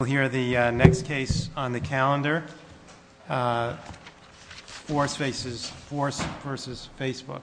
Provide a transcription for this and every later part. We'll hear the next case on the calendar, Force v. Facebook.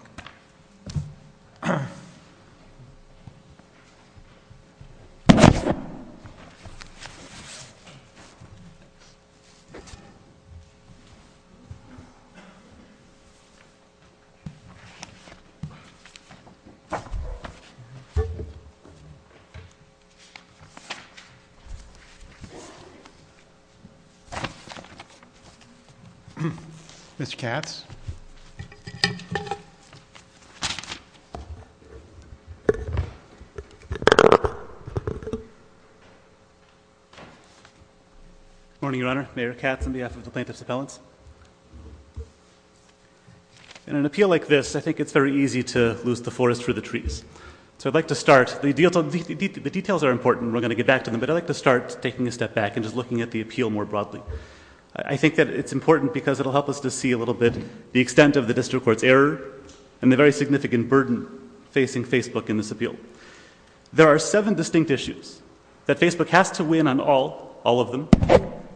Mr. Katz. Good morning, Your Honor. Mayor Katz on behalf of the Plaintiffs' Appellants. In an appeal like this, I think it's very easy to lose the forest for the trees. So I'd like to start, the details are important, we're going to get back to them, but I'd like to start taking a step back and just looking at the appeal more broadly. I think that it's important because it'll help us to see a little bit the extent of the District Court's error and the very significant burden facing Facebook in this appeal. There are seven distinct issues that Facebook has to win on all, all of them,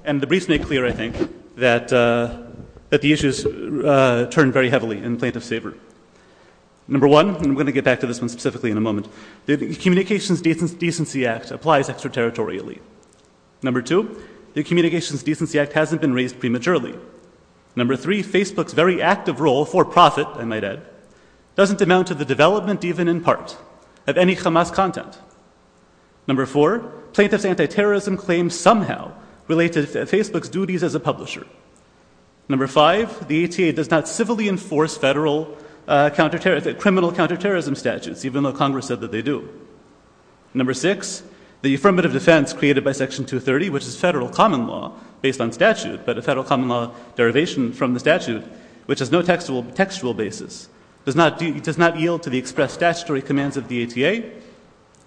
and the briefs make clear, I think, that the issues turn very heavily in Plaintiff's Favor. Number one, and we're going to get back to this one specifically in a moment, the Communications Decency Act applies extraterritorially. Number two, the Communications Decency Act hasn't been raised prematurely. Number three, Facebook's very active role, for profit, I might add, doesn't amount to the development even in part of any Hamas content. Number four, Plaintiff's anti-terrorism claims somehow relate to Facebook's duties as a publisher. Number five, the ATA does not civilly enforce federal criminal counterterrorism statutes, even though Congress said that they do. Number six, the affirmative defense created by Section 230, which is federal common law based on statute, but a federal common law derivation from the statute, which has no textual basis, does not yield to the expressed statutory commands of the ATA.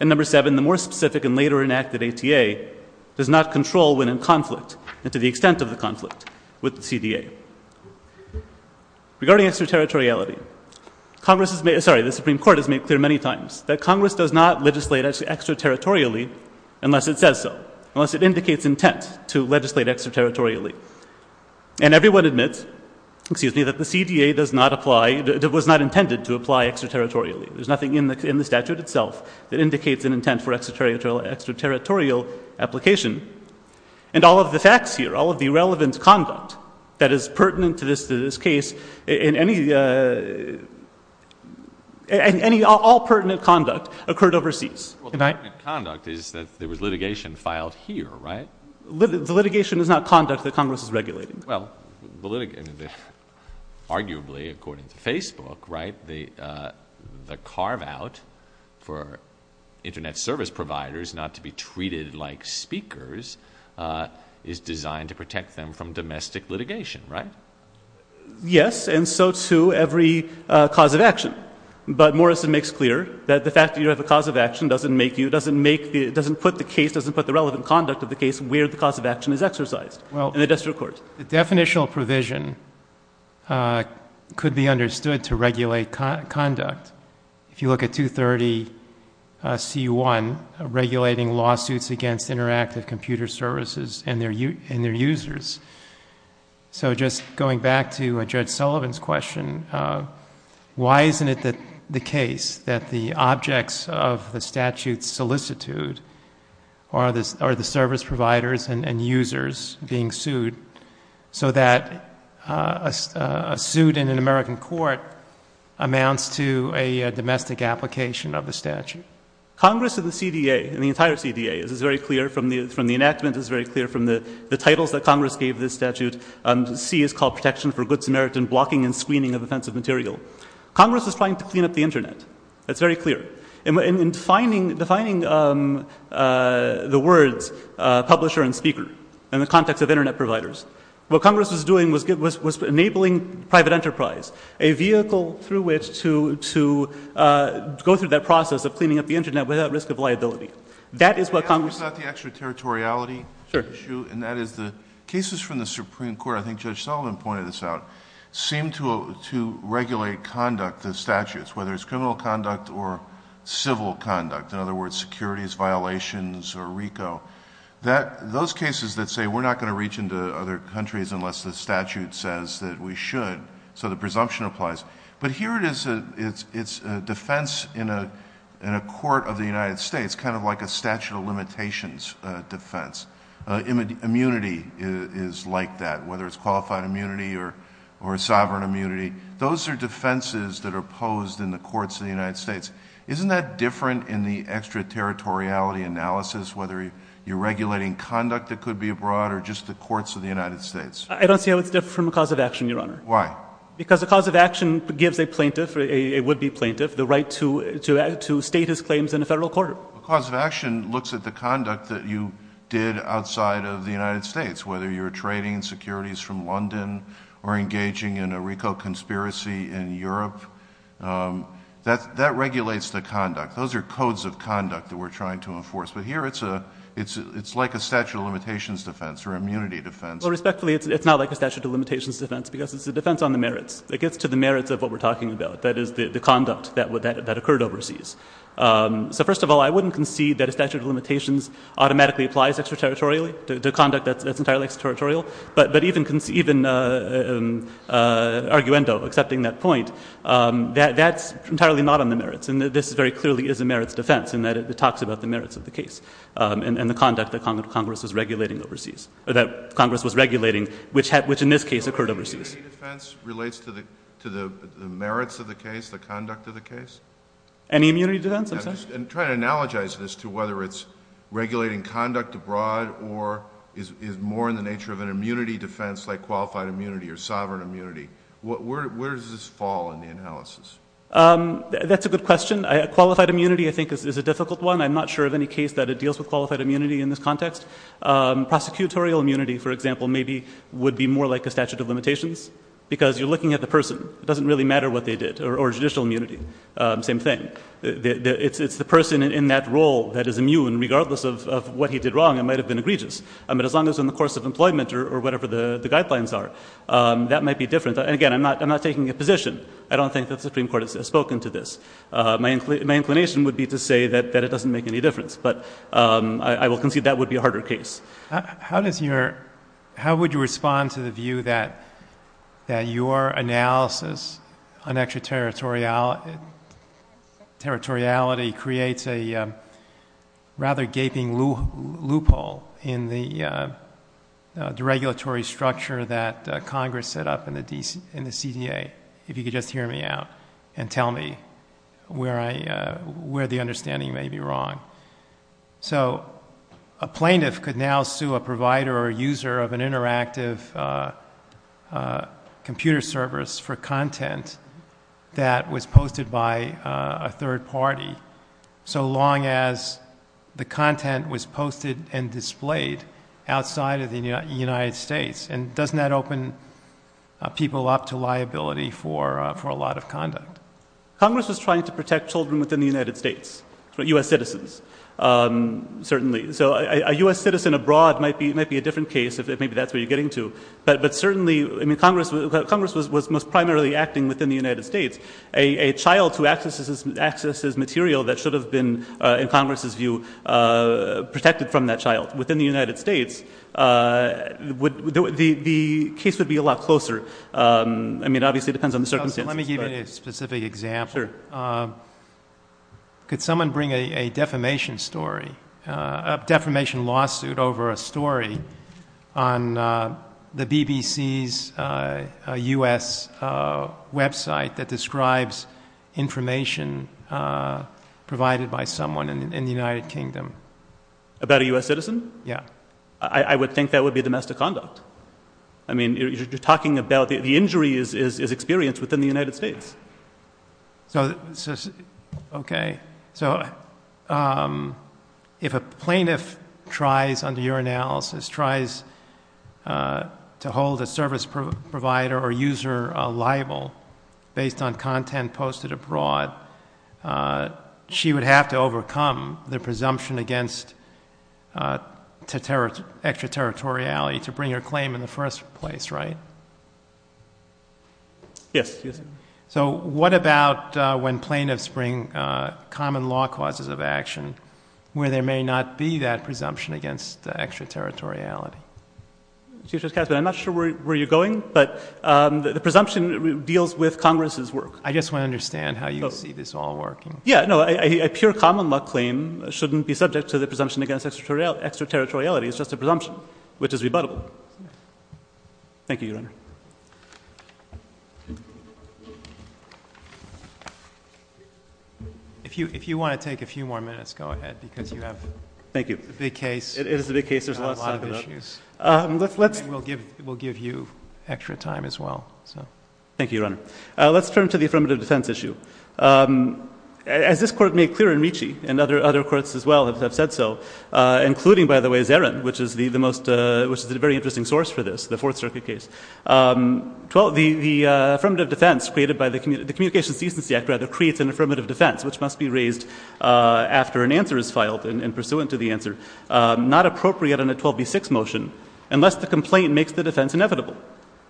And number seven, the more specific and later enacted ATA does not control when in conflict and to the extent of the conflict with the CDA. Regarding extraterritoriality, the Supreme Court has made clear many times that Congress does not legislate extraterritorially unless it says so, unless it indicates intent to legislate extraterritorially. And everyone admits that the CDA was not intended to apply extraterritorially. There's nothing in the statute itself that indicates an intent for extraterritorial application. And all of the facts here, all of the relevant conduct that is pertinent to this case, and all pertinent conduct occurred overseas. Well, the pertinent conduct is that there was litigation filed here, right? The litigation is not conduct that Congress is regulating. Well, arguably, according to Facebook, right, the carve-out for Internet service providers not to be treated like speakers is designed to protect them from domestic litigation, right? Yes, and so too every cause of action. But Morrison makes clear that the fact that you have a cause of action doesn't make you, doesn't put the case, doesn't put the relevant conduct of the case where the cause of action is exercised in the district court. The definitional provision could be understood to regulate conduct. If you look at 230 C-1, regulating lawsuits against interactive computer services and their users. So just going back to Judge Sullivan's question, why isn't it the case that the objects of the statute's solicitude are the service providers and users being sued, so that a suit in an American court amounts to a domestic application of the statute? Congress and the CDA, and the entire CDA, this is very clear from the enactment, this is very clear from the titles that Congress gave this statute. C is called Protection for Good Samaritan Blocking and Screening of Offensive Material. Congress is trying to clean up the Internet. That's very clear. In defining the words publisher and speaker, in the context of Internet providers, what Congress was doing was enabling private enterprise, a vehicle through which to go through that process of cleaning up the Internet without risk of liability. That is what Congress... It's not the extraterritoriality issue, and that is the cases from the Supreme Court, I think Judge Sullivan pointed this out, seem to regulate conduct, the statutes, whether it's criminal conduct or civil conduct. In other words, securities violations or RICO. Those cases that say we're not going to reach into other countries unless the statute says that we should, so the presumption applies, but here it's a defense in a court of the United States, kind of like a statute of limitations defense. Immunity is like that, whether it's qualified immunity or sovereign immunity. Those are defenses that are posed in the courts of the United States. Isn't that different in the extraterritoriality analysis, whether you're regulating conduct that could be abroad or just the courts of the United States? I don't see how it's different from a cause of action, Your Honor. Why? Because a cause of action gives a plaintiff, a would-be plaintiff, the right to state his claims in a federal court. A cause of action looks at the conduct that you did outside of the United States, whether you're trading securities from London or engaging in a RICO conspiracy in Europe. That regulates the conduct. Those are codes of conduct that we're trying to enforce, but here it's like a statute of limitations defense or immunity defense. Respectfully, it's not like a statute of limitations defense because it's a defense on the merits. It gets to the merits of what we're talking about, that is, the conduct that occurred overseas. So, first of all, I wouldn't concede that a statute of limitations automatically applies extraterritorially to conduct that's entirely extraterritorial, but even arguendo, accepting that point, that's entirely not on the merits, and this very clearly is a merits defense in that it talks about the merits of the case and the conduct that Congress was regulating overseas, or that Congress was regulating, which in this case occurred overseas. So immunity defense relates to the merits of the case, the conduct of the case? Any immunity defense, I'm sorry? I'm trying to analogize this to whether it's regulating conduct abroad or is more in the nature of an immunity defense like qualified immunity or sovereign immunity. Where does this fall in the analysis? That's a good question. Qualified immunity, I think, is a difficult one. I'm not sure of any case that it deals with qualified immunity in this context. Prosecutorial immunity, for example, maybe would be more like a statute of limitations because you're looking at the person. It doesn't really matter what they did. Or judicial immunity, same thing. It's the person in that role that is immune, and regardless of what he did wrong, it might have been egregious. But as long as it's in the course of employment or whatever the guidelines are, that might be different. Again, I'm not taking a position. I don't think that the Supreme Court has spoken to this. My inclination would be to say that it doesn't make any difference, but I will concede that would be a harder case. How would you respond to the view that your analysis on extraterritoriality creates a rather gaping loophole in the regulatory structure that Congress set up in the CDA, if you could just hear me out and tell me where the understanding may be wrong? So a plaintiff could now sue a provider or a user of an interactive computer service for content that was posted by a third party, so long as the content was posted and displayed outside of the United States. And doesn't that open people up to liability for a lot of conduct? Congress was trying to protect children within the United States, U.S. citizens, certainly. So a U.S. citizen abroad might be a different case, if maybe that's what you're getting to. But certainly, I mean, Congress was most primarily acting within the United States. A child who accesses material that should have been, in Congress's view, protected from that child within the United States, the case would be a lot closer. I mean, obviously it depends on the circumstances. Let me give you a specific example. Sure. Could someone bring a defamation story, a defamation lawsuit over a story on the BBC's U.S. website that describes information provided by someone in the United Kingdom? About a U.S. citizen? Yeah. I would think that would be domestic conduct. I mean, you're talking about the injury is experienced within the United States. Okay. So if a plaintiff tries, under your analysis, tries to hold a service provider or user liable based on content posted abroad, she would have to overcome the presumption against extraterritoriality to bring her claim in the first place, right? Yes. So what about when plaintiffs bring common law causes of action where there may not be that presumption against extraterritoriality? Chief Justice Katzmann, I'm not sure where you're going, but the presumption deals with Congress's work. I just want to understand how you see this all working. Yeah. No, a pure common law claim shouldn't be subject to the presumption against extraterritoriality. It's just a presumption, which is rebuttable. Thank you, Your Honor. If you want to take a few more minutes, go ahead, because you have a big case. Thank you. It is a big case. There's a lot of issues. We'll give you extra time as well. Thank you, Your Honor. Let's turn to the affirmative defense issue. As this Court made clear in Ricci, and other courts as well have said so, including, by the way, Zarin, which is a very interesting source for this, the Fourth Circuit case, the affirmative defense created by the Communications Decency Act rather creates an affirmative defense, which must be raised after an answer is filed and pursuant to the answer, not appropriate in a 12b6 motion unless the complaint makes the defense inevitable.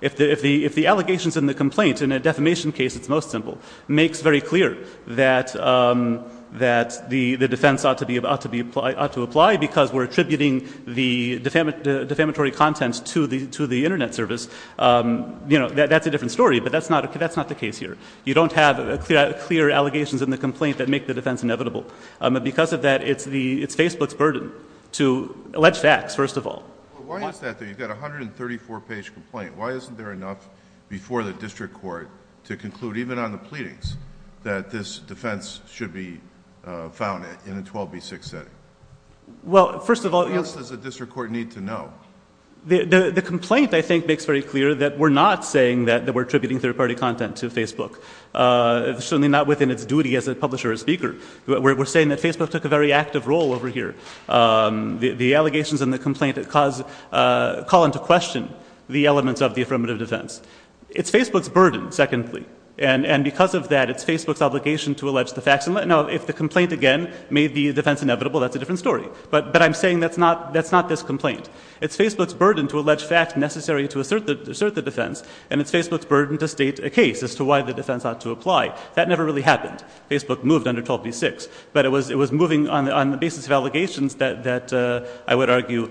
If the allegations in the complaint in a defamation case, it's most simple, makes very clear that the defense ought to apply because we're attributing the defamatory content to the Internet service. That's a different story, but that's not the case here. You don't have clear allegations in the complaint that make the defense inevitable. Because of that, it's Facebook's burden to allege facts, first of all. Why is that, though? You've got a 134-page complaint. Why isn't there enough before the district court to conclude, even on the pleadings, that this defense should be found in a 12b6 setting? Well, first of all, yes. What else does the district court need to know? The complaint, I think, makes very clear that we're not saying that we're attributing third-party content to Facebook, certainly not within its duty as a publisher or speaker. We're saying that Facebook took a very active role over here. The allegations in the complaint call into question the elements of the affirmative defense. It's Facebook's burden, secondly, and because of that, it's Facebook's obligation to allege the facts. Now, if the complaint, again, made the defense inevitable, that's a different story. But I'm saying that's not this complaint. It's Facebook's burden to allege facts necessary to assert the defense, and it's Facebook's burden to state a case as to why the defense ought to apply. That never really happened. Facebook moved under 12b6, but it was moving on the basis of allegations that I would argue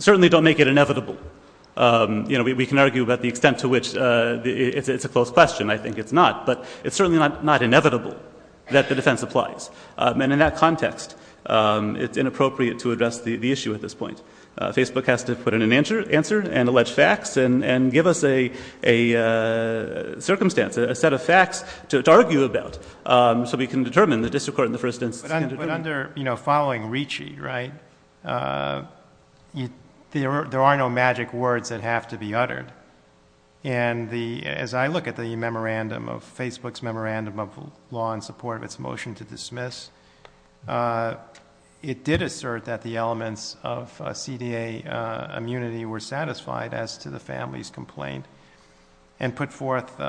certainly don't make it inevitable. You know, we can argue about the extent to which it's a closed question. I think it's not. But it's certainly not inevitable that the defense applies. And in that context, it's inappropriate to address the issue at this point. Facebook has to put in an answer and allege facts and give us a circumstance, a set of facts to argue about, so we can determine the disaccord in the first instance. But under, you know, following Ricci, right, there are no magic words that have to be uttered. And as I look at the memorandum of Facebook's memorandum of law in support of its motion to dismiss, it did assert that the elements of CDA immunity were satisfied as to the family's complaint and put forth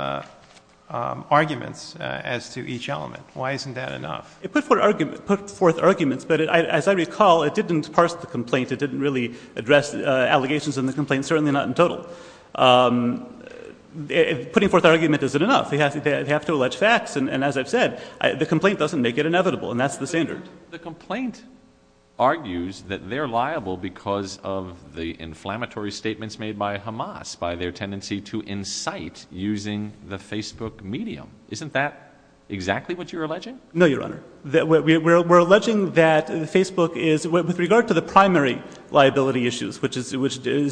arguments as to each element. Why isn't that enough? It put forth arguments, but as I recall, it didn't parse the complaint. It didn't really address allegations in the complaint, certainly not in total. Putting forth argument isn't enough. They have to allege facts. And as I've said, the complaint doesn't make it inevitable, and that's the standard. The complaint argues that they're liable because of the inflammatory statements made by Hamas, by their tendency to incite using the Facebook medium. Isn't that exactly what you're alleging? No, Your Honor. We're alleging that Facebook is, with regard to the primary liability issues, which is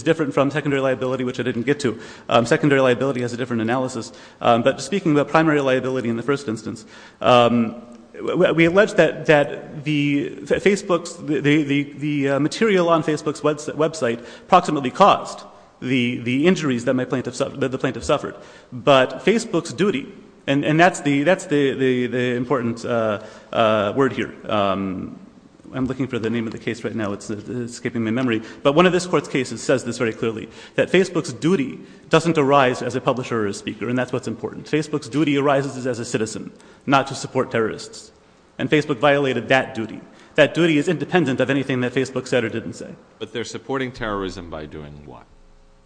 different from secondary liability, which I didn't get to. Secondary liability has a different analysis. But speaking about primary liability in the first instance, we allege that the material on Facebook's website approximately caused the injuries that the plaintiff suffered. But Facebook's duty, and that's the important word here. I'm looking for the name of the case right now. It's skipping my memory. But one of this Court's cases says this very clearly, that Facebook's duty doesn't arise as a publisher or a speaker, and that's what's important. Facebook's duty arises as a citizen, not to support terrorists. And Facebook violated that duty. That duty is independent of anything that Facebook said or didn't say. But they're supporting terrorism by doing what?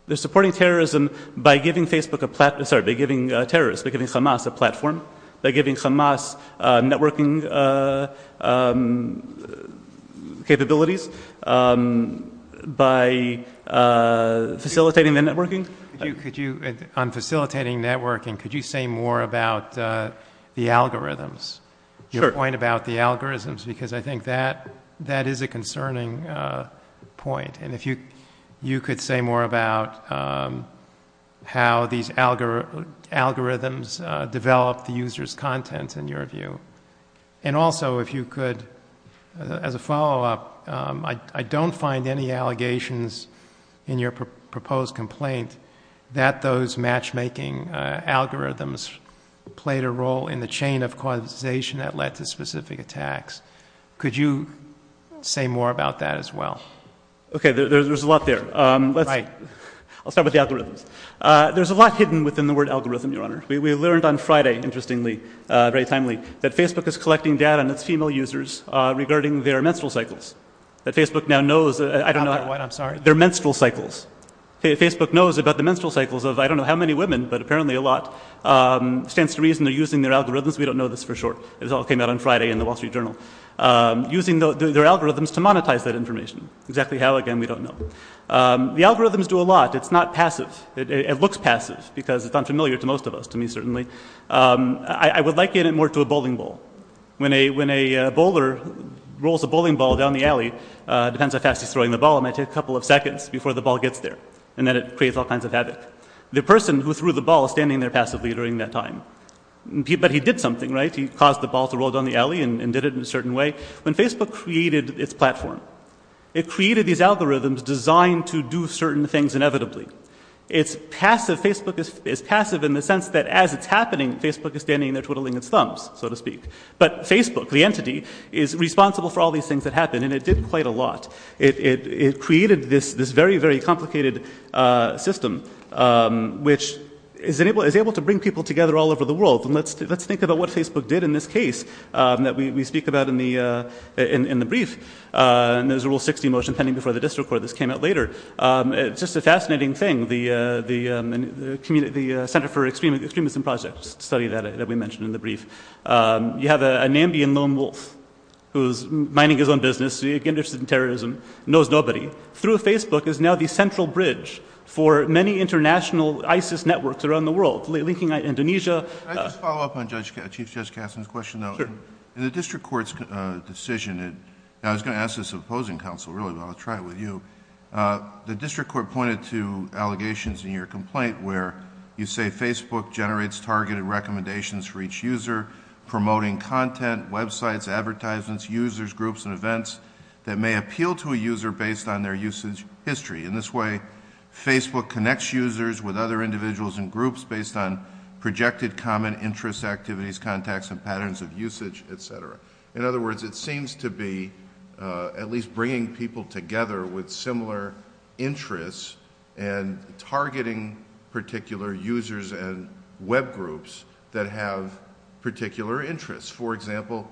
They're supporting terrorism by giving Facebook a platform. Sorry, by giving terrorists, by giving Hamas a platform, by giving Hamas networking capabilities, by facilitating their networking. On facilitating networking, could you say more about the algorithms? Sure. Your point about the algorithms, because I think that is a concerning point. And if you could say more about how these algorithms develop the user's content, in your view. And also, if you could, as a follow-up, I don't find any allegations in your proposed complaint that those matchmaking algorithms played a role in the chain of causation that led to specific attacks. Could you say more about that as well? Okay. There's a lot there. Right. I'll start with the algorithms. There's a lot hidden within the word algorithm, Your Honor. We learned on Friday, interestingly, very timely, that Facebook is collecting data on its female users regarding their menstrual cycles. That Facebook now knows, I don't know how... I'm sorry. Their menstrual cycles. Facebook knows about the menstrual cycles of, I don't know how many women, but apparently a lot. Stands to reason they're using their algorithms. We don't know this for sure. This all came out on Friday in the Wall Street Journal. Using their algorithms to monetize that information. Exactly how, again, we don't know. The algorithms do a lot. It's not passive. It looks passive, because it's unfamiliar to most of us. To me, certainly. I would like it more to a bowling ball. When a bowler rolls a bowling ball down the alley, depends how fast he's throwing the ball, it might take a couple of seconds before the ball gets there. And then it creates all kinds of havoc. The person who threw the ball is standing there passively during that time. But he did something, right? He caused the ball to roll down the alley and did it in a certain way. When Facebook created its platform, it created these algorithms designed to do certain things inevitably. It's passive. Facebook is passive in the sense that as it's happening, Facebook is standing there twiddling its thumbs, so to speak. But Facebook, the entity, is responsible for all these things that happen. And it did quite a lot. It created this very, very complicated system, which is able to bring people together all over the world. And let's think about what Facebook did in this case that we speak about in the brief. And there's a Rule 60 motion pending before the district court. This came out later. It's just a fascinating thing. The Center for Extremism Projects studied that, that we mentioned in the brief. You have a Nambian lone wolf who's minding his own business. He's interested in terrorism. Knows nobody. Through Facebook is now the central bridge for many international ISIS networks around the world. Linking Indonesia... Can I just follow up on Chief Judge Kasten's question, though? Sure. In the district court's decision, and I was going to ask this of opposing counsel, really, but I'll try it with you. The district court pointed to allegations in your complaint where you say Facebook generates targeted recommendations for each user, promoting content, websites, advertisements, users, groups, and events that may appeal to a user based on their usage history. In this way, Facebook connects users with other individuals and groups based on projected common interest activities, contacts, and patterns of usage, etc. In other words, it seems to be at least bringing people together with similar interests and targeting particular users and web groups that have particular interests. For example,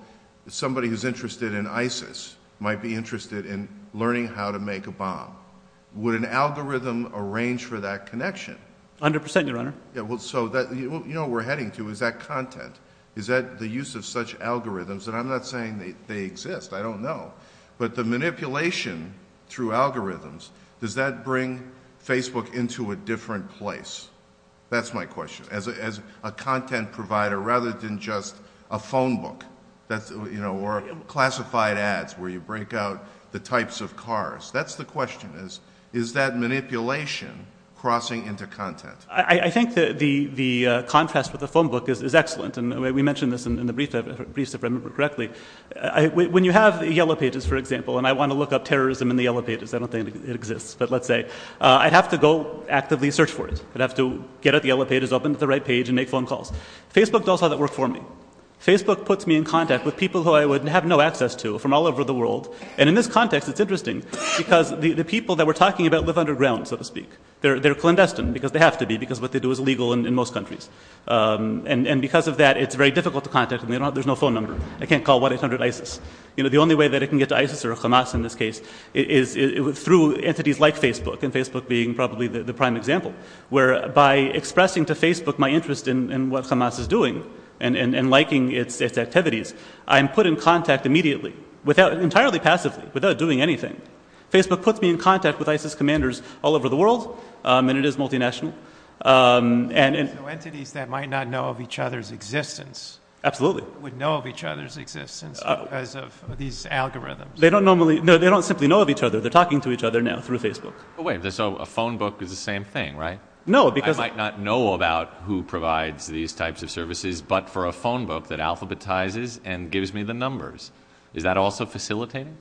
somebody who's interested in ISIS might be interested in learning how to make a bomb. Would an algorithm arrange for that connection? A hundred percent, Your Honor. You know what we're heading to. Is that content? Is that the use of such algorithms? And I'm not saying they exist. I don't know. But the manipulation through algorithms, does that bring Facebook into a different place? That's my question. As a content provider rather than just a phone book or classified ads where you break out the types of cars. That's the question. Is that manipulation crossing into content? I think the contrast with the phone book is excellent. And we mentioned this in the briefs, if I remember correctly. When you have Yellow Pages, for example, and I want to look up terrorism in the Yellow Pages. I don't think it exists, but let's say. I'd have to go actively search for it. I'd have to get at the Yellow Pages, open up the right page, and make phone calls. Facebook does all that work for me. Facebook puts me in contact with people who I would have no access to from all over the world. And in this context, it's interesting. Because the people that we're talking about live underground, so to speak. They're clandestine, because they have to be, because what they do is illegal in most countries. And because of that, it's very difficult to contact them. There's no phone number. I can't call 1-800-ISIS. The only way that I can get to ISIS or Hamas in this case is through entities like Facebook. And Facebook being probably the prime example. Where by expressing to Facebook my interest in what Hamas is doing and liking its activities, I'm put in contact immediately, entirely passively, without doing anything. Facebook puts me in contact with ISIS commanders all over the world. And it is multinational. So entities that might not know of each other's existence would know of each other's existence because of these algorithms. They don't simply know of each other. They're talking to each other now through Facebook. So a phone book is the same thing, right? I might not know about who provides these types of services, but for a phone book that alphabetizes and gives me the numbers. Is that also facilitating?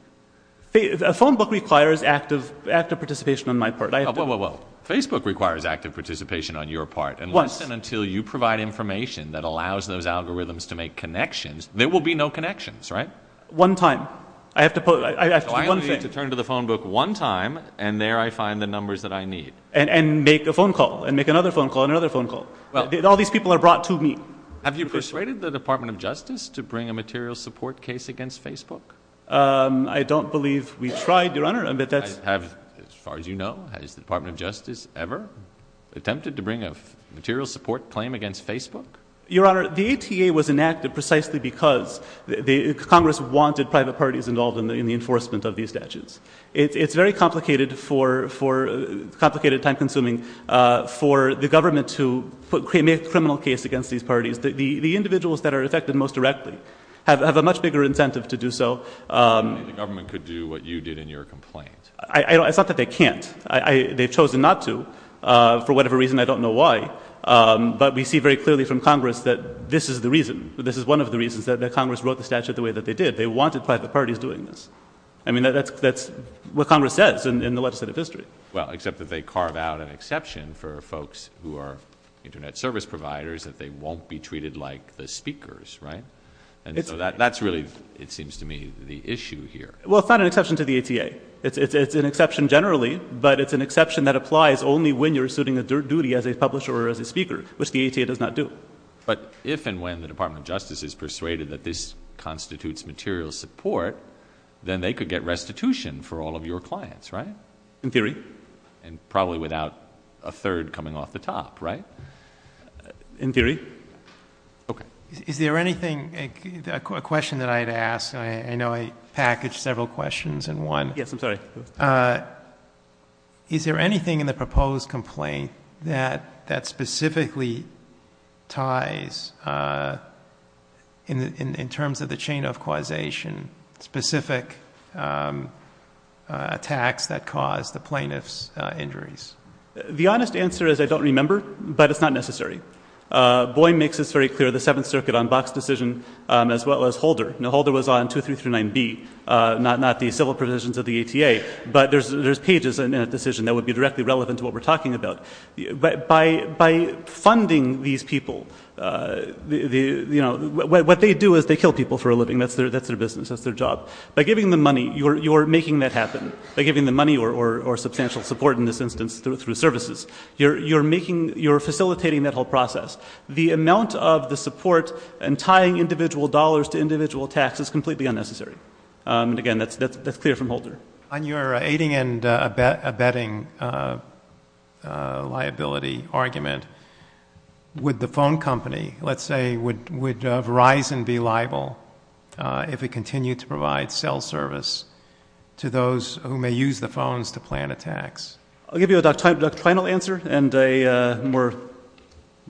A phone book requires active participation on my part. Facebook requires active participation on your part. And listen until you provide information that allows those algorithms to make connections. There will be no connections, right? One time. I have to do one thing. So I only need to turn to the phone book one time, and there I find the numbers that I need. And make a phone call, and make another phone call, and another phone call. All these people are brought to me. Have you persuaded the Department of Justice to bring a material support case against Facebook? I don't believe we tried, Your Honor. As far as you know, has the Department of Justice ever attempted to bring a material support claim against Facebook? Your Honor, the ATA was enacted precisely because Congress wanted private parties involved in the enforcement of these statutes. It's very complicated, time-consuming for the government to make a criminal case against these parties. The individuals that are affected most directly have a much bigger incentive to do so. The government could do what you did in your complaint. It's not that they can't. They've chosen not to for whatever reason. I don't know why. But we see very clearly from Congress that this is the reason. This is one of the reasons that Congress wrote the statute the way that they did. They wanted private parties doing this. I mean, that's what Congress says in the legislative history. Well, except that they carve out an exception for folks who are Internet service providers, that they won't be treated like the speakers, right? And so that's really, it seems to me, the issue here. Well, it's not an exception to the ATA. It's an exception generally, but it's an exception that applies only when you're suiting a duty as a publisher or as a speaker, which the ATA does not do. But if and when the Department of Justice is persuaded that this constitutes material support, then they could get restitution for all of your clients, right? In theory. And probably without a third coming off the top, right? In theory. Okay. Is there anything, a question that I had to ask, and I know I packaged several questions in one. Yes, I'm sorry. Is there anything in the proposed complaint that specifically ties, in terms of the chain of causation, specific attacks that caused the plaintiff's injuries? The honest answer is I don't remember, but it's not necessary. Boeing makes this very clear, the Seventh Circuit on Box decision, as well as Holder. Now, Holder was on 2339B, not the civil provisions of the ATA. But there's pages in that decision that would be directly relevant to what we're talking about. By funding these people, what they do is they kill people for a living. That's their business. That's their job. By giving them money, you're making that happen. By giving them money or substantial support, in this instance, through services. You're facilitating that whole process. The amount of the support and tying individual dollars to individual taxes is completely unnecessary. And, again, that's clear from Holder. On your aiding and abetting liability argument, would the phone company, let's say, would Verizon be liable if it continued to provide cell service to those who may use the phones to plan attacks? I'll give you a doctrinal answer and a more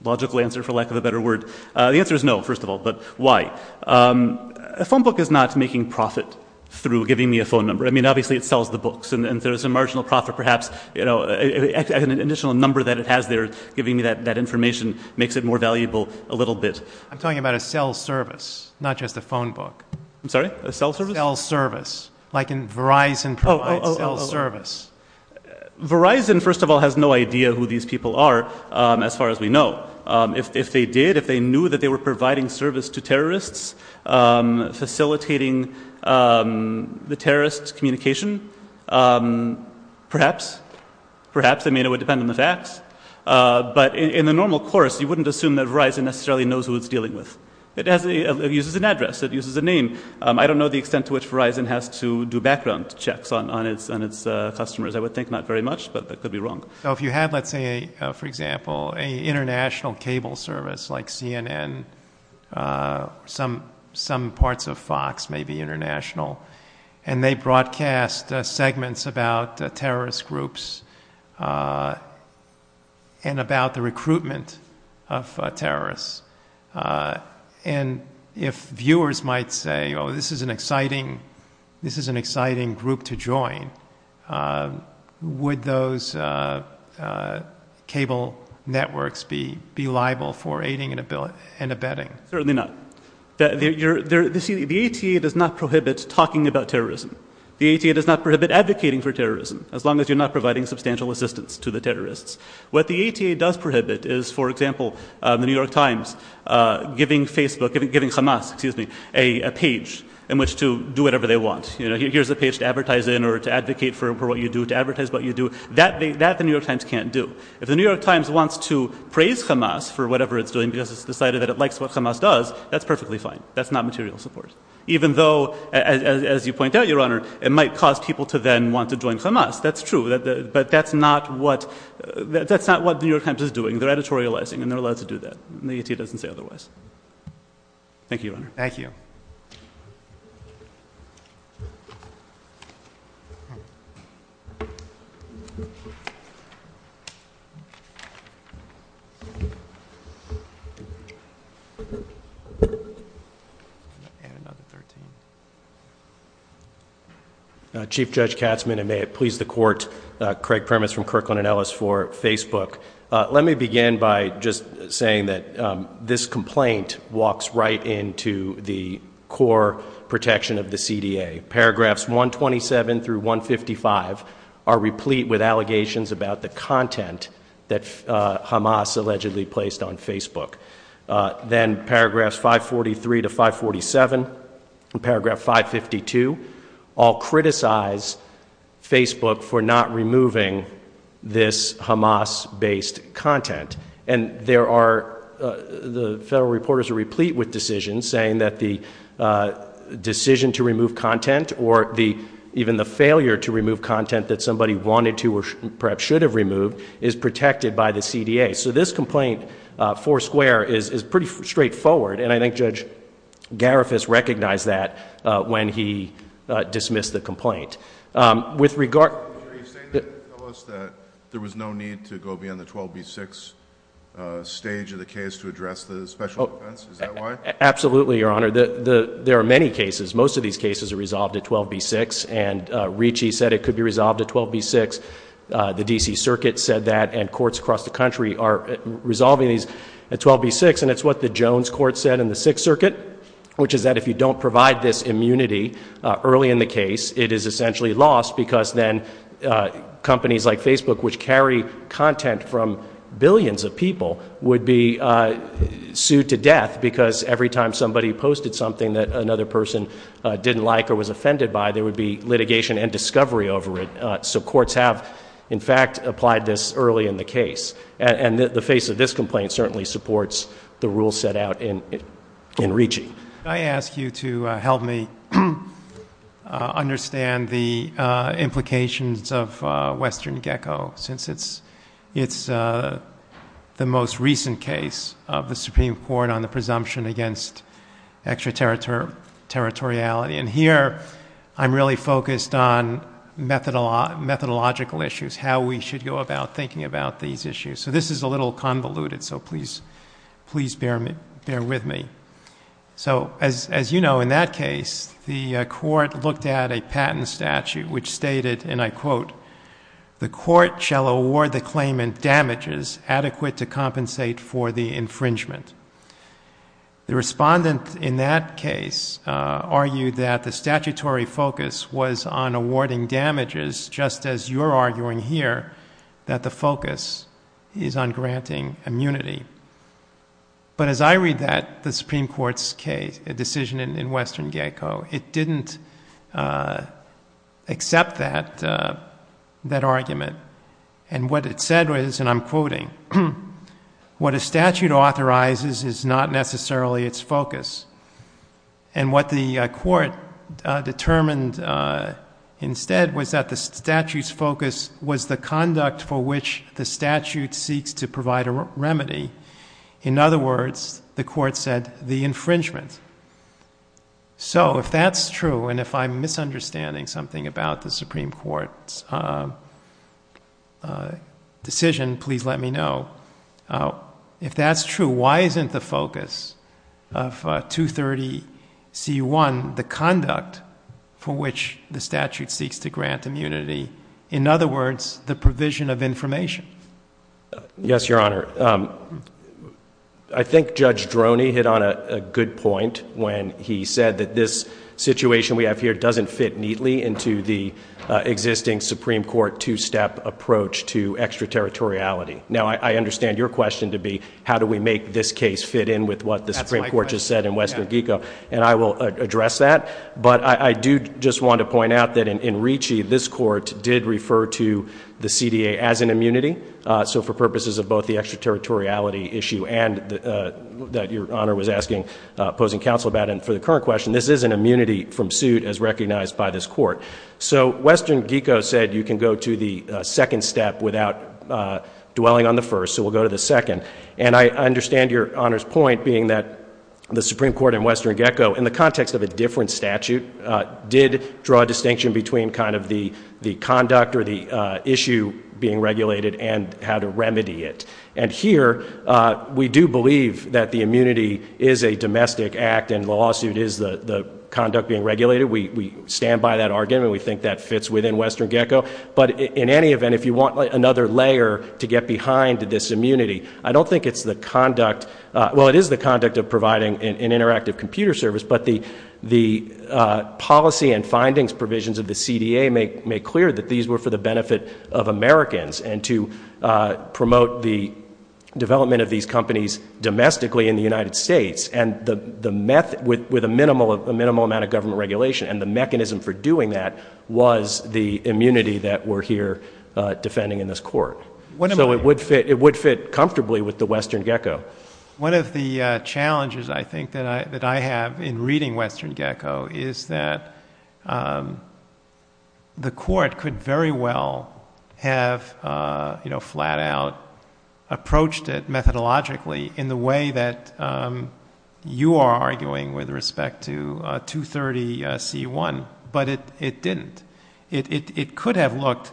logical answer, for lack of a better word. The answer is no, first of all. But why? A phone book is not making profit through giving me a phone number. I mean, obviously, it sells the books. And there's a marginal profit, perhaps. An additional number that it has there, giving me that information, makes it more valuable a little bit. I'm talking about a cell service, not just a phone book. I'm sorry? A cell service? Cell service. Like Verizon provides cell service. Verizon, first of all, has no idea who these people are, as far as we know. If they did, if they knew that they were providing service to terrorists, facilitating the terrorist communication, perhaps. Perhaps. I mean, it would depend on the facts. But in the normal course, you wouldn't assume that Verizon necessarily knows who it's dealing with. It uses an address. It uses a name. I don't know the extent to which Verizon has to do background checks on its customers. I would think not very much. But I could be wrong. So if you had, let's say, for example, an international cable service like CNN, some parts of Fox may be international. And they broadcast segments about terrorist groups and about the recruitment of terrorists. And if viewers might say, oh, this is an exciting group to join, would those cable networks be liable for aiding and abetting? Certainly not. The ATA does not prohibit talking about terrorism. The ATA does not prohibit advocating for terrorism, as long as you're not providing substantial assistance to the terrorists. What the ATA does prohibit is, for example, the New York Times giving Hamas a page in which to do whatever they want. Here's a page to advertise in or to advocate for what you do, to advertise what you do. That the New York Times can't do. If the New York Times wants to praise Hamas for whatever it's doing because it's decided that it likes what Hamas does, that's perfectly fine. That's not material support. Even though, as you point out, Your Honor, it might cause people to then want to join Hamas. That's true. But that's not what the New York Times is doing. They're editorializing, and they're allowed to do that. The ATA doesn't say otherwise. Thank you, Your Honor. Thank you. And another 13. Chief Judge Katzmann, and may it please the court, Craig Primus from Kirkland & Ellis for Facebook. Let me begin by just saying that this complaint walks right into the core protection of the CDA. Paragraphs 127 through 155 are replete with allegations about the content that Hamas allegedly placed on Facebook. Then paragraphs 543 to 547 and paragraph 552 all criticize Facebook for not removing this Hamas-based content. And the federal reporters are replete with decisions saying that the decision to remove content or even the failure to remove content that somebody wanted to or perhaps should have removed is protected by the CDA. So this complaint, four square, is pretty straightforward, and I think Judge Garifas recognized that when he dismissed the complaint. With regard... Are you saying that there was no need to go beyond the 12B6 stage of the case to address the special defense? Is that why? Absolutely, Your Honor. There are many cases. Most of these cases are resolved at 12B6, and Ricci said it could be resolved at 12B6. The D.C. Circuit said that, and courts across the country are resolving these at 12B6, and it's what the Jones Court said in the Sixth Circuit, which is that if you don't provide this immunity early in the case, it is essentially lost because then companies like Facebook, which carry content from billions of people, would be sued to death because every time somebody posted something that another person didn't like or was offended by, there would be litigation and discovery over it. So courts have, in fact, applied this early in the case, and the face of this complaint certainly supports the rules set out in Ricci. Could I ask you to help me understand the implications of Western GECCO, since it's the most recent case of the Supreme Court on the presumption against extraterritoriality? And here I'm really focused on methodological issues, how we should go about thinking about these issues. So this is a little convoluted, so please bear with me. So as you know, in that case, the court looked at a patent statute which stated, and I quote, the court shall award the claimant damages adequate to compensate for the infringement. The respondent in that case argued that the statutory focus was on awarding damages, just as you're arguing here that the focus is on granting immunity. But as I read that, the Supreme Court's case, a decision in Western GECCO, it didn't accept that argument. And what it said was, and I'm quoting, what a statute authorizes is not necessarily its focus. And what the court determined instead was that the statute's focus was the conduct for which the statute seeks to provide a remedy. In other words, the court said the infringement. So if that's true, and if I'm misunderstanding something about the Supreme Court's decision, please let me know. If that's true, why isn't the focus of 230C1 the conduct for which the statute seeks to grant immunity? In other words, the provision of information? Yes, Your Honor. I think Judge Droney hit on a good point when he said that this situation we have here doesn't fit neatly into the existing Supreme Court two-step approach to extraterritoriality. Now, I understand your question to be, how do we make this case fit in with what the Supreme Court just said in Western GECCO, and I will address that. But I do just want to point out that in Ricci, this court did refer to the CDA as an immunity. So for purposes of both the extraterritoriality issue and that Your Honor was asking, posing counsel about, and for the current question, this is an immunity from suit as recognized by this court. So Western GECCO said you can go to the second step without dwelling on the first, so we'll go to the second. And I understand Your Honor's point being that the Supreme Court in Western GECCO, in the context of a different statute, did draw a distinction between kind of the conduct or the issue being regulated and how to remedy it. And here, we do believe that the immunity is a domestic act and the lawsuit is the conduct being regulated. We stand by that argument. We think that fits within Western GECCO. But in any event, if you want another layer to get behind this immunity, I don't think it's the conduct. Well, it is the conduct of providing an interactive computer service, but the policy and findings provisions of the CDA make clear that these were for the benefit of Americans and to promote the development of these companies domestically in the United States and with a minimal amount of government regulation. And the mechanism for doing that was the immunity that we're here defending in this court. So it would fit comfortably with the Western GECCO. One of the challenges, I think, that I have in reading Western GECCO is that the court could very well have, you know, flat out approached it methodologically in the way that you are arguing with respect to 230C1, but it didn't. It could have looked,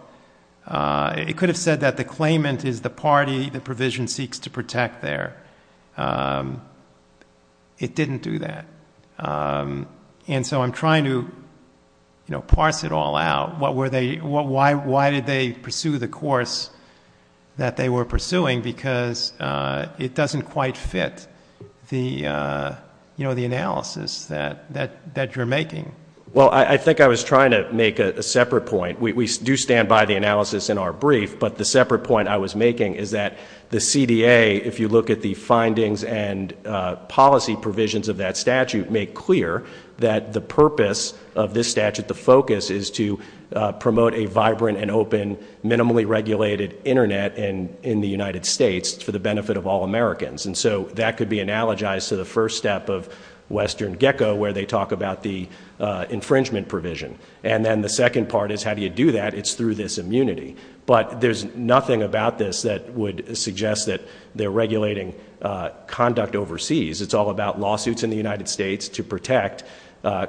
it could have said that the claimant is the party the provision seeks to protect there. It didn't do that. And so I'm trying to, you know, parse it all out. Why did they pursue the course that they were pursuing? Because it doesn't quite fit the, you know, the analysis that you're making. Well, I think I was trying to make a separate point. We do stand by the analysis in our brief, but the separate point I was making is that the CDA, if you look at the findings and policy provisions of that statute, make clear that the purpose of this statute, the focus, is to promote a vibrant and open minimally regulated Internet in the United States for the benefit of all Americans. And so that could be analogized to the first step of Western GECCO where they talk about the infringement provision. And then the second part is how do you do that? It's through this immunity. But there's nothing about this that would suggest that they're regulating conduct overseas. It's all about lawsuits in the United States to protect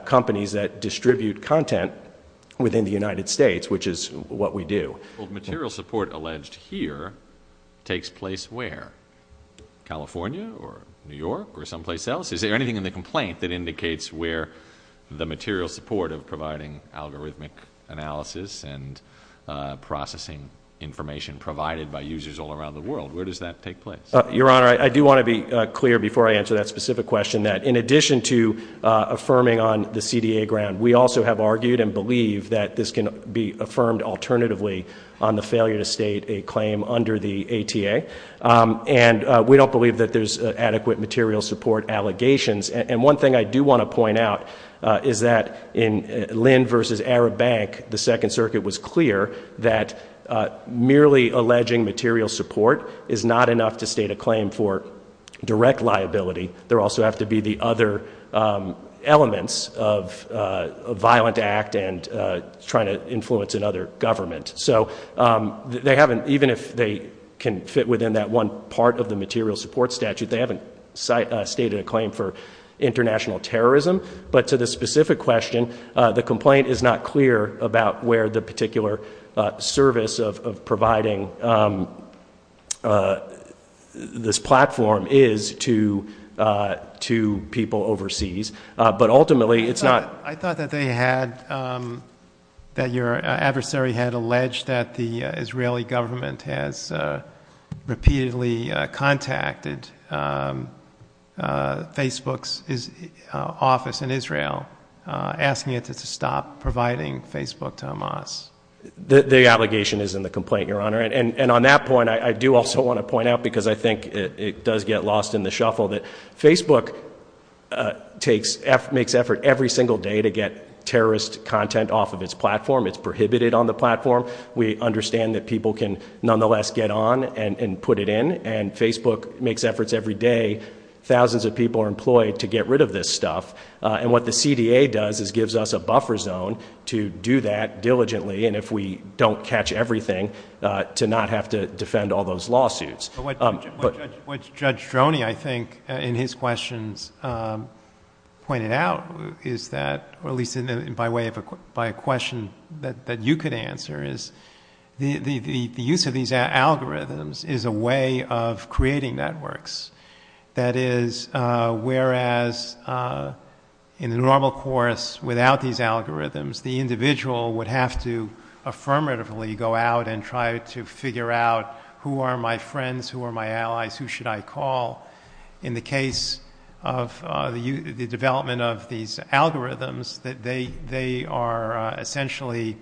companies that distribute content within the United States, which is what we do. Well, material support alleged here takes place where? California or New York or someplace else? Is there anything in the complaint that indicates where the material support of providing algorithmic analysis and processing information provided by users all around the world, where does that take place? Your Honor, I do want to be clear before I answer that specific question, that in addition to affirming on the CDA ground, we also have argued and believe that this can be affirmed alternatively on the failure to state a claim under the ATA. And we don't believe that there's adequate material support allegations. And one thing I do want to point out is that in Lind versus Arab Bank, the Second Circuit was clear that merely alleging material support is not enough to state a claim for direct liability. There also have to be the other elements of a violent act and trying to influence another government. So they haven't, even if they can fit within that one part of the material support statute, they haven't stated a claim for international terrorism. But to the specific question, the complaint is not clear about where the particular service of providing this platform is to people overseas. I thought that your adversary had alleged that the Israeli government has repeatedly contacted Facebook's office in Israel, asking it to stop providing Facebook to Hamas. The allegation is in the complaint, Your Honor. And on that point, I do also want to point out, because I think it does get lost in the shuffle, that Facebook makes effort every single day to get terrorist content off of its platform. It's prohibited on the platform. We understand that people can nonetheless get on and put it in. And Facebook makes efforts every day. Thousands of people are employed to get rid of this stuff. And what the CDA does is gives us a buffer zone to do that diligently, and if we don't catch everything, to not have to defend all those lawsuits. What Judge Droney, I think, in his questions pointed out, or at least by way of a question that you could answer, is the use of these algorithms is a way of creating networks. That is, whereas in the normal course, without these algorithms, the individual would have to affirmatively go out and try to figure out, who are my friends, who are my allies, who should I call? In the case of the development of these algorithms, they are essentially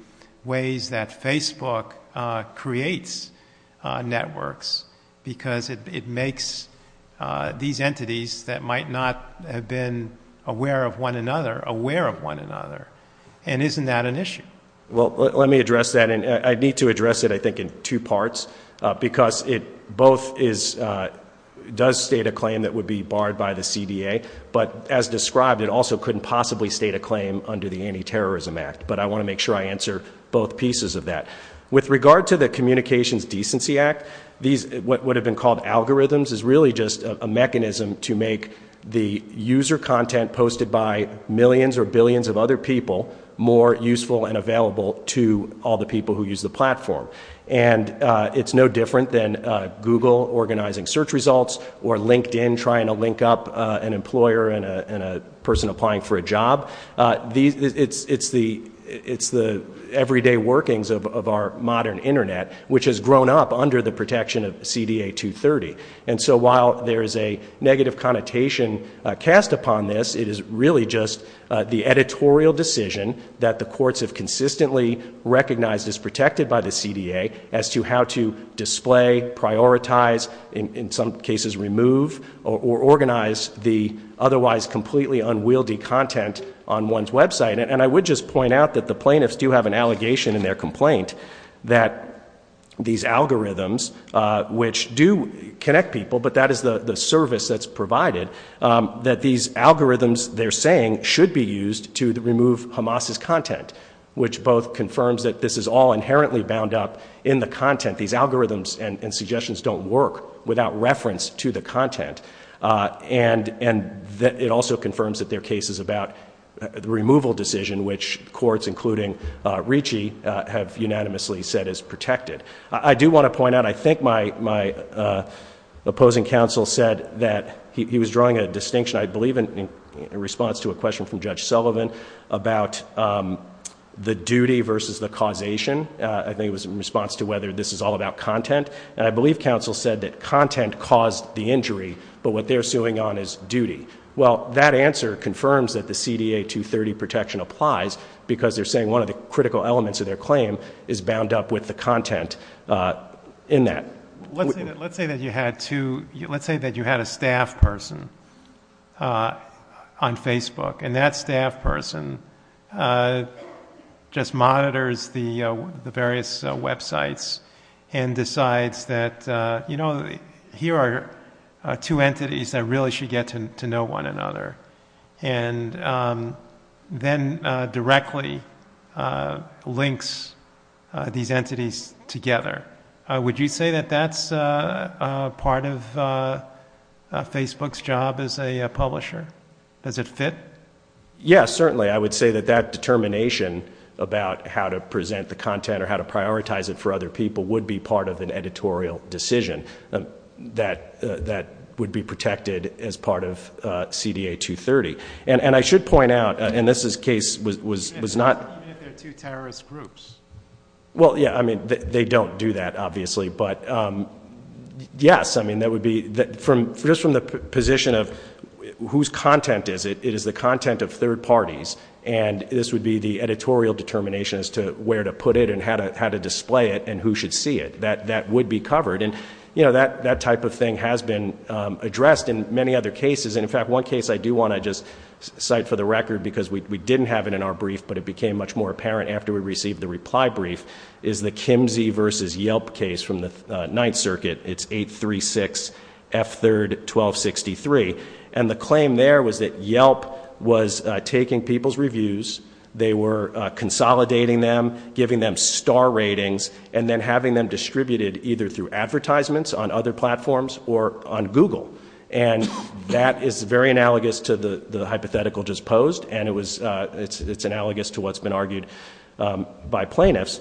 ways that Facebook creates networks, because it makes these entities that might not have been aware of one another, aware of one another. And isn't that an issue? Well, let me address that, and I need to address it, I think, in two parts, because it both does state a claim that would be barred by the CDA, but as described, it also couldn't possibly state a claim under the Anti-Terrorism Act. But I want to make sure I answer both pieces of that. With regard to the Communications Decency Act, what would have been called algorithms is really just a mechanism to make the user content posted by millions or billions of other people more useful and available to all the people who use the platform. And it's no different than Google organizing search results, or LinkedIn trying to link up an employer and a person applying for a job. It's the everyday workings of our modern Internet, which has grown up under the protection of CDA 230. And so while there is a negative connotation cast upon this, it is really just the editorial decision that the courts have consistently recognized as protected by the CDA as to how to display, prioritize, in some cases remove, or organize the otherwise completely unwieldy content on one's website. And I would just point out that the plaintiffs do have an allegation in their complaint that these algorithms, which do connect people, but that is the service that's provided, that these algorithms they're saying should be used to remove Hamas's content, which both confirms that this is all inherently bound up in the content. These algorithms and suggestions don't work without reference to the content. And it also confirms that there are cases about the removal decision, which courts, including Ricci, have unanimously said is protected. I do want to point out, I think my opposing counsel said that he was drawing a distinction, I believe in response to a question from Judge Sullivan, about the duty versus the causation. I think it was in response to whether this is all about content. And I believe counsel said that content caused the injury, but what they're suing on is duty. Well, that answer confirms that the CDA 230 protection applies, because they're saying one of the critical elements of their claim is bound up with the content in that. Let's say that you had a staff person on Facebook, and that staff person just monitors the various websites and decides that, you know, here are two entities that really should get to know one another, and then directly links these entities together. Would you say that that's part of Facebook's job as a publisher? Does it fit? Yes, certainly. I would say that that determination about how to present the content or how to prioritize it for other people would be part of an editorial decision that would be protected as part of CDA 230. And I should point out, and this case was not... You mean if they're two terrorist groups? Well, yeah, I mean, they don't do that, obviously. But, yes, I mean, that would be... Just from the position of whose content is it, it is the content of third parties, and this would be the editorial determination as to where to put it and how to display it and who should see it. That would be covered. And, you know, that type of thing has been addressed in many other cases. And, in fact, one case I do want to just cite for the record, because we didn't have it in our brief, but it became much more apparent after we received the reply brief, is the Kimsey v. Yelp case from the Ninth Circuit. It's 836F31263. And the claim there was that Yelp was taking people's reviews, they were consolidating them, giving them star ratings, and then having them distributed either through advertisements on other platforms or on Google. And that is very analogous to the hypothetical just posed, and it's analogous to what's been argued by plaintiffs.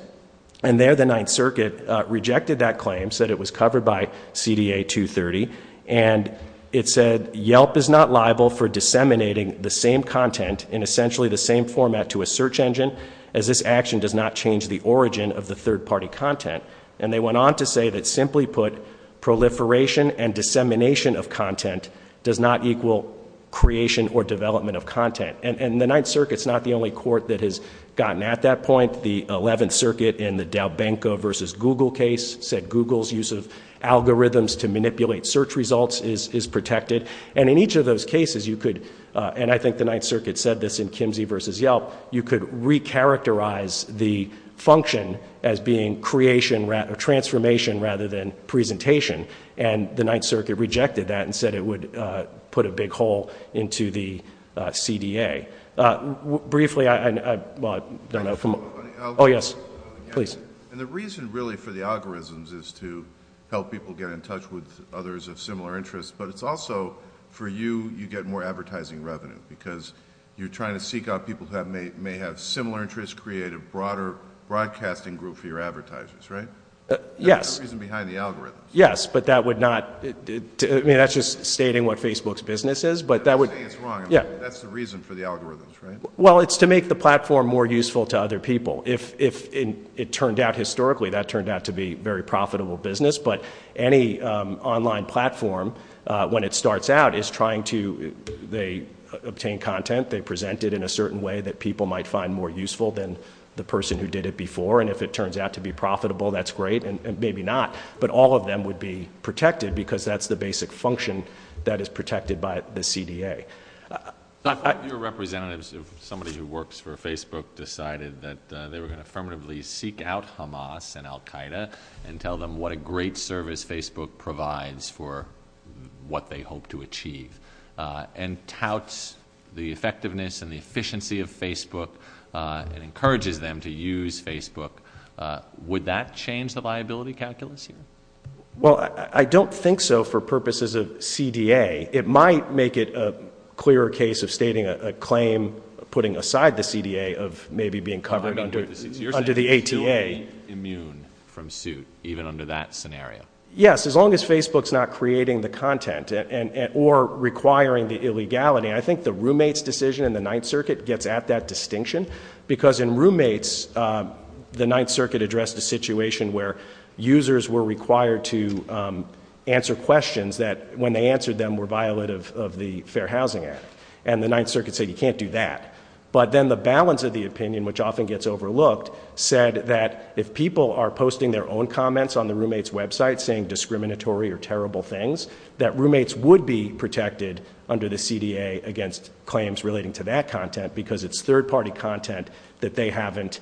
And there the Ninth Circuit rejected that claim, said it was covered by CDA 230, and it said Yelp is not liable for disseminating the same content in essentially the same format to a search engine, as this action does not change the origin of the third-party content. And they went on to say that, simply put, proliferation and dissemination of content does not equal creation or development of content. And the Ninth Circuit is not the only court that has gotten at that point. The Eleventh Circuit in the Dalbenko v. Google case said Google's use of algorithms to manipulate search results is protected. And in each of those cases you could, and I think the Ninth Circuit said this in Kimsey v. Yelp, you could recharacterize the function as being transformation rather than presentation. And the Ninth Circuit rejected that and said it would put a big hole into the CDA. Briefly, I don't know if I'm on. Oh, yes. Please. And the reason really for the algorithms is to help people get in touch with others of similar interests, but it's also for you, you get more advertising revenue, because you're trying to seek out people who may have similar interests, create a broader broadcasting group for your advertisers, right? Yes. That's the reason behind the algorithms. Yes, but that would not, I mean, that's just stating what Facebook's business is. You're saying it's wrong. Yeah. That's the reason for the algorithms, right? Well, it's to make the platform more useful to other people. If it turned out historically that turned out to be a very profitable business, but any online platform, when it starts out, is trying to, they obtain content, they present it in a certain way that people might find more useful than the person who did it before, and if it turns out to be profitable, that's great, and maybe not, but all of them would be protected because that's the basic function that is protected by the CDA. Your representatives, somebody who works for Facebook, decided that they were going to affirmatively seek out Hamas and Al Qaeda and tell them what a great service Facebook provides for what they hope to achieve and touts the effectiveness and the efficiency of Facebook and encourages them to use Facebook. Would that change the viability calculus here? Well, I don't think so for purposes of CDA. It might make it a clearer case of stating a claim, putting aside the CDA, of maybe being covered under the ATA. You're saying it's still immune from suit, even under that scenario. Yes, as long as Facebook's not creating the content or requiring the illegality. I think the roommate's decision in the Ninth Circuit gets at that distinction because in roommates, the Ninth Circuit addressed a situation where users were required to answer questions that when they answered them were violative of the Fair Housing Act, and the Ninth Circuit said you can't do that. But then the balance of the opinion, which often gets overlooked, said that if people are posting their own comments on the roommate's website saying discriminatory or terrible things, that roommates would be protected under the CDA against claims relating to that content because it's third-party content that they haven't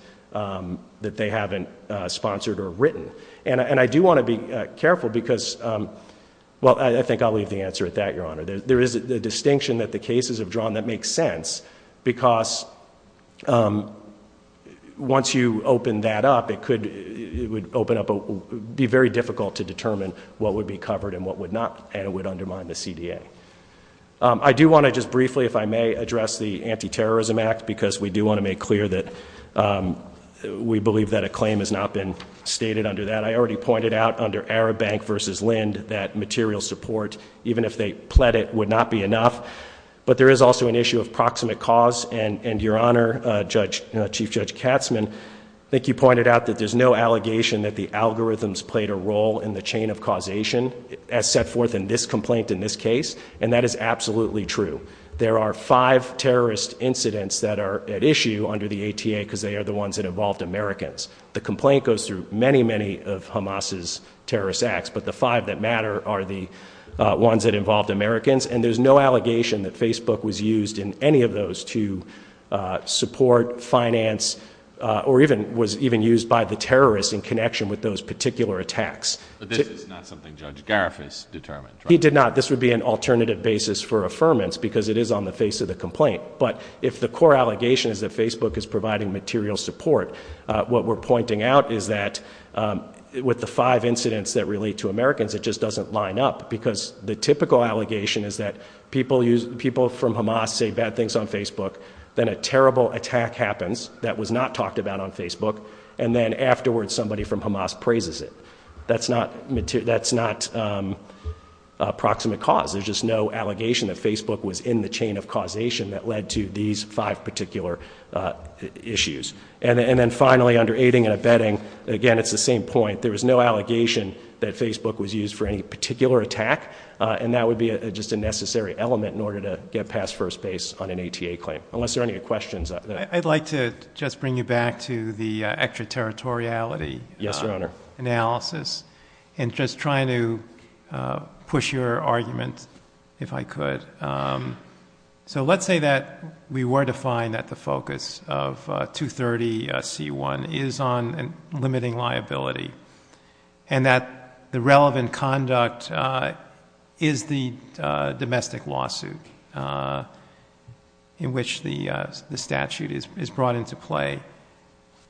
sponsored or written. And I do want to be careful because, well, I think I'll leave the answer at that, Your Honor. There is a distinction that the cases have drawn that makes sense because once you open that up, it would be very difficult to determine what would be covered and what would not, and it would undermine the CDA. I do want to just briefly, if I may, address the Anti-Terrorism Act because we do want to make clear that we believe that a claim has not been stated under that. I already pointed out under Arab Bank v. Lind that material support, even if they pled it, would not be enough. But there is also an issue of proximate cause, and, Your Honor, Chief Judge Katzman, I think you pointed out that there's no allegation that the algorithms played a role in the chain of causation as set forth in this complaint in this case, and that is absolutely true. There are five terrorist incidents that are at issue under the ATA because they are the ones that involved Americans. The complaint goes through many, many of Hamas's terrorist acts, but the five that matter are the ones that involved Americans, and there's no allegation that Facebook was used in any of those to support, finance, or was even used by the terrorists in connection with those particular attacks. But this is not something Judge Garifas determined, right? He did not. This would be an alternative basis for affirmance because it is on the face of the complaint. But if the core allegation is that Facebook is providing material support, what we're pointing out is that with the five incidents that relate to Americans, it just doesn't line up because the typical allegation is that people from Hamas say bad things on Facebook, then a terrible attack happens that was not talked about on Facebook, and then afterwards somebody from Hamas praises it. That's not approximate cause. There's just no allegation that Facebook was in the chain of causation that led to these five particular issues. And then finally, under aiding and abetting, again, it's the same point. There is no allegation that Facebook was used for any particular attack, and that would be just a necessary element in order to get past first base on an ATA claim, unless there are any questions. I'd like to just bring you back to the extraterritoriality analysis and just try to push your argument, if I could. So let's say that we were to find that the focus of 230C1 is on limiting liability and that the relevant conduct is the domestic lawsuit in which the statute is brought into play.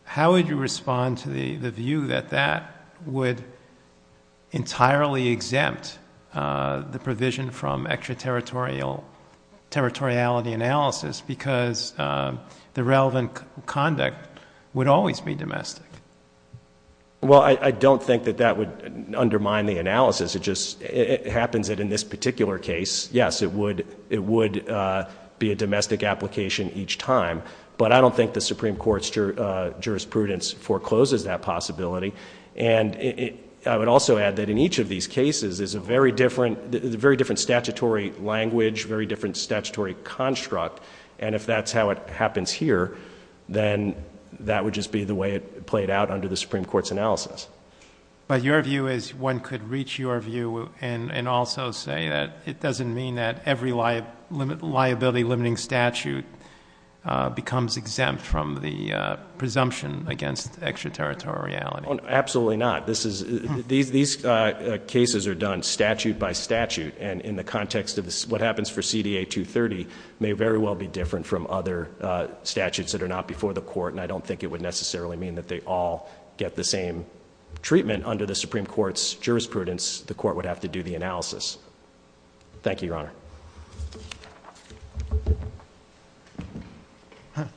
How would you respond to the view that that would entirely exempt the provision from extraterritoriality? Because the relevant conduct would always be domestic. Well, I don't think that that would undermine the analysis. It just happens that in this particular case, yes, it would be a domestic application each time. But I don't think the Supreme Court's jurisprudence forecloses that possibility. And I would also add that in each of these cases, there's a very different statutory language, very different statutory construct, and if that's how it happens here, then that would just be the way it played out under the Supreme Court's analysis. But your view is one could reach your view and also say that it doesn't mean that every liability-limiting statute becomes exempt from the presumption against extraterritoriality. Absolutely not. These cases are done statute by statute, and in the context of what happens for CDA 230, may very well be different from other statutes that are not before the court, and I don't think it would necessarily mean that they all get the same treatment under the Supreme Court's jurisprudence. The court would have to do the analysis. Thank you, Your Honor.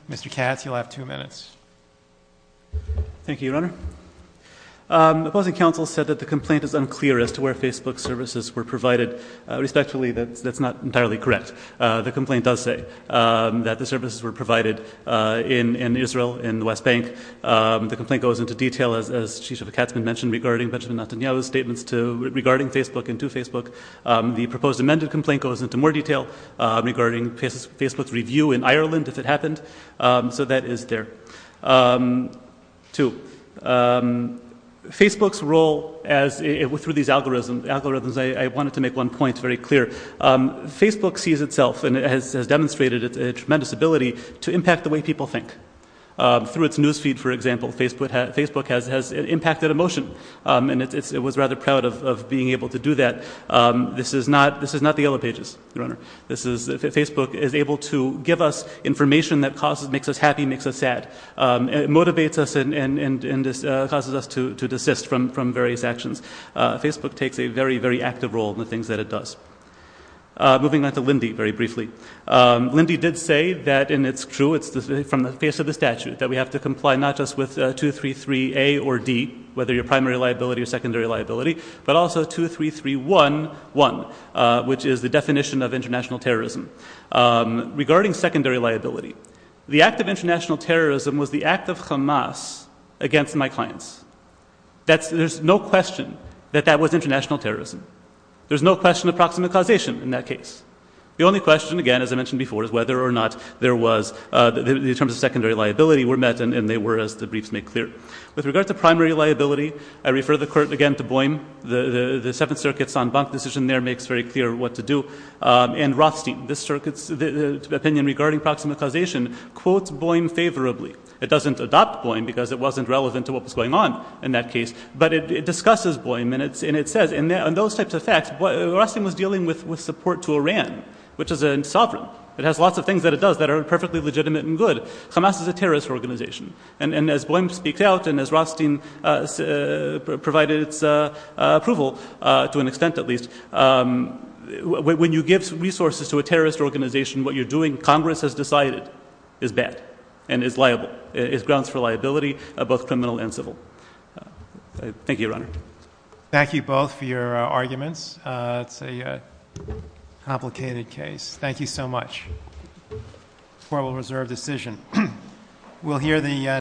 Mr. Katz, you'll have two minutes. Thank you, Your Honor. Opposing counsel said that the complaint is unclear as to where Facebook services were provided. Respectfully, that's not entirely correct. The complaint does say that the services were provided in Israel, in the West Bank. The complaint goes into detail, as Chief Justice Katzman mentioned, regarding Benjamin Netanyahu's statements regarding Facebook and to Facebook. The proposed amended complaint goes into more detail regarding Facebook's review in Ireland, if it happened. So that is there. Two, Facebook's role through these algorithms, I wanted to make one point very clear. Facebook sees itself and has demonstrated a tremendous ability to impact the way people think. Through its news feed, for example, Facebook has impacted emotion, and it was rather proud of being able to do that. This is not the Yellow Pages, Your Honor. Facebook is able to give us information that makes us happy, makes us sad. It motivates us and causes us to desist from various actions. Facebook takes a very, very active role in the things that it does. Moving on to Lindy, very briefly. Lindy did say that, and it's true, it's from the face of the statute, that we have to comply not just with 233A or D, whether you're primary liability or secondary liability, but also 23311, which is the definition of international terrorism. Regarding secondary liability, the act of international terrorism was the act of Hamas against my clients. There's no question that that was international terrorism. There's no question of proximate causation in that case. The only question, again, as I mentioned before, is whether or not there was the terms of secondary liability were met, and they were, as the briefs make clear. With regard to primary liability, I refer the Court again to Boehm. The Seventh Circuit's en banc decision there makes very clear what to do. And Rothstein, this Circuit's opinion regarding proximate causation quotes Boehm favorably. It doesn't adopt Boehm because it wasn't relevant to what was going on in that case, but it discusses Boehm, and it says in those types of facts Rothstein was dealing with support to Iran, which is sovereign. It has lots of things that it does that are perfectly legitimate and good. Hamas is a terrorist organization. And as Boehm speaks out and as Rothstein provided its approval, to an extent at least, when you give resources to a terrorist organization, what you're doing, Congress has decided, is bad and is liable, is grounds for liability, both criminal and civil. Thank you, Your Honor. Thank you both for your arguments. It's a complicated case. Thank you so much. Court will reserve decision.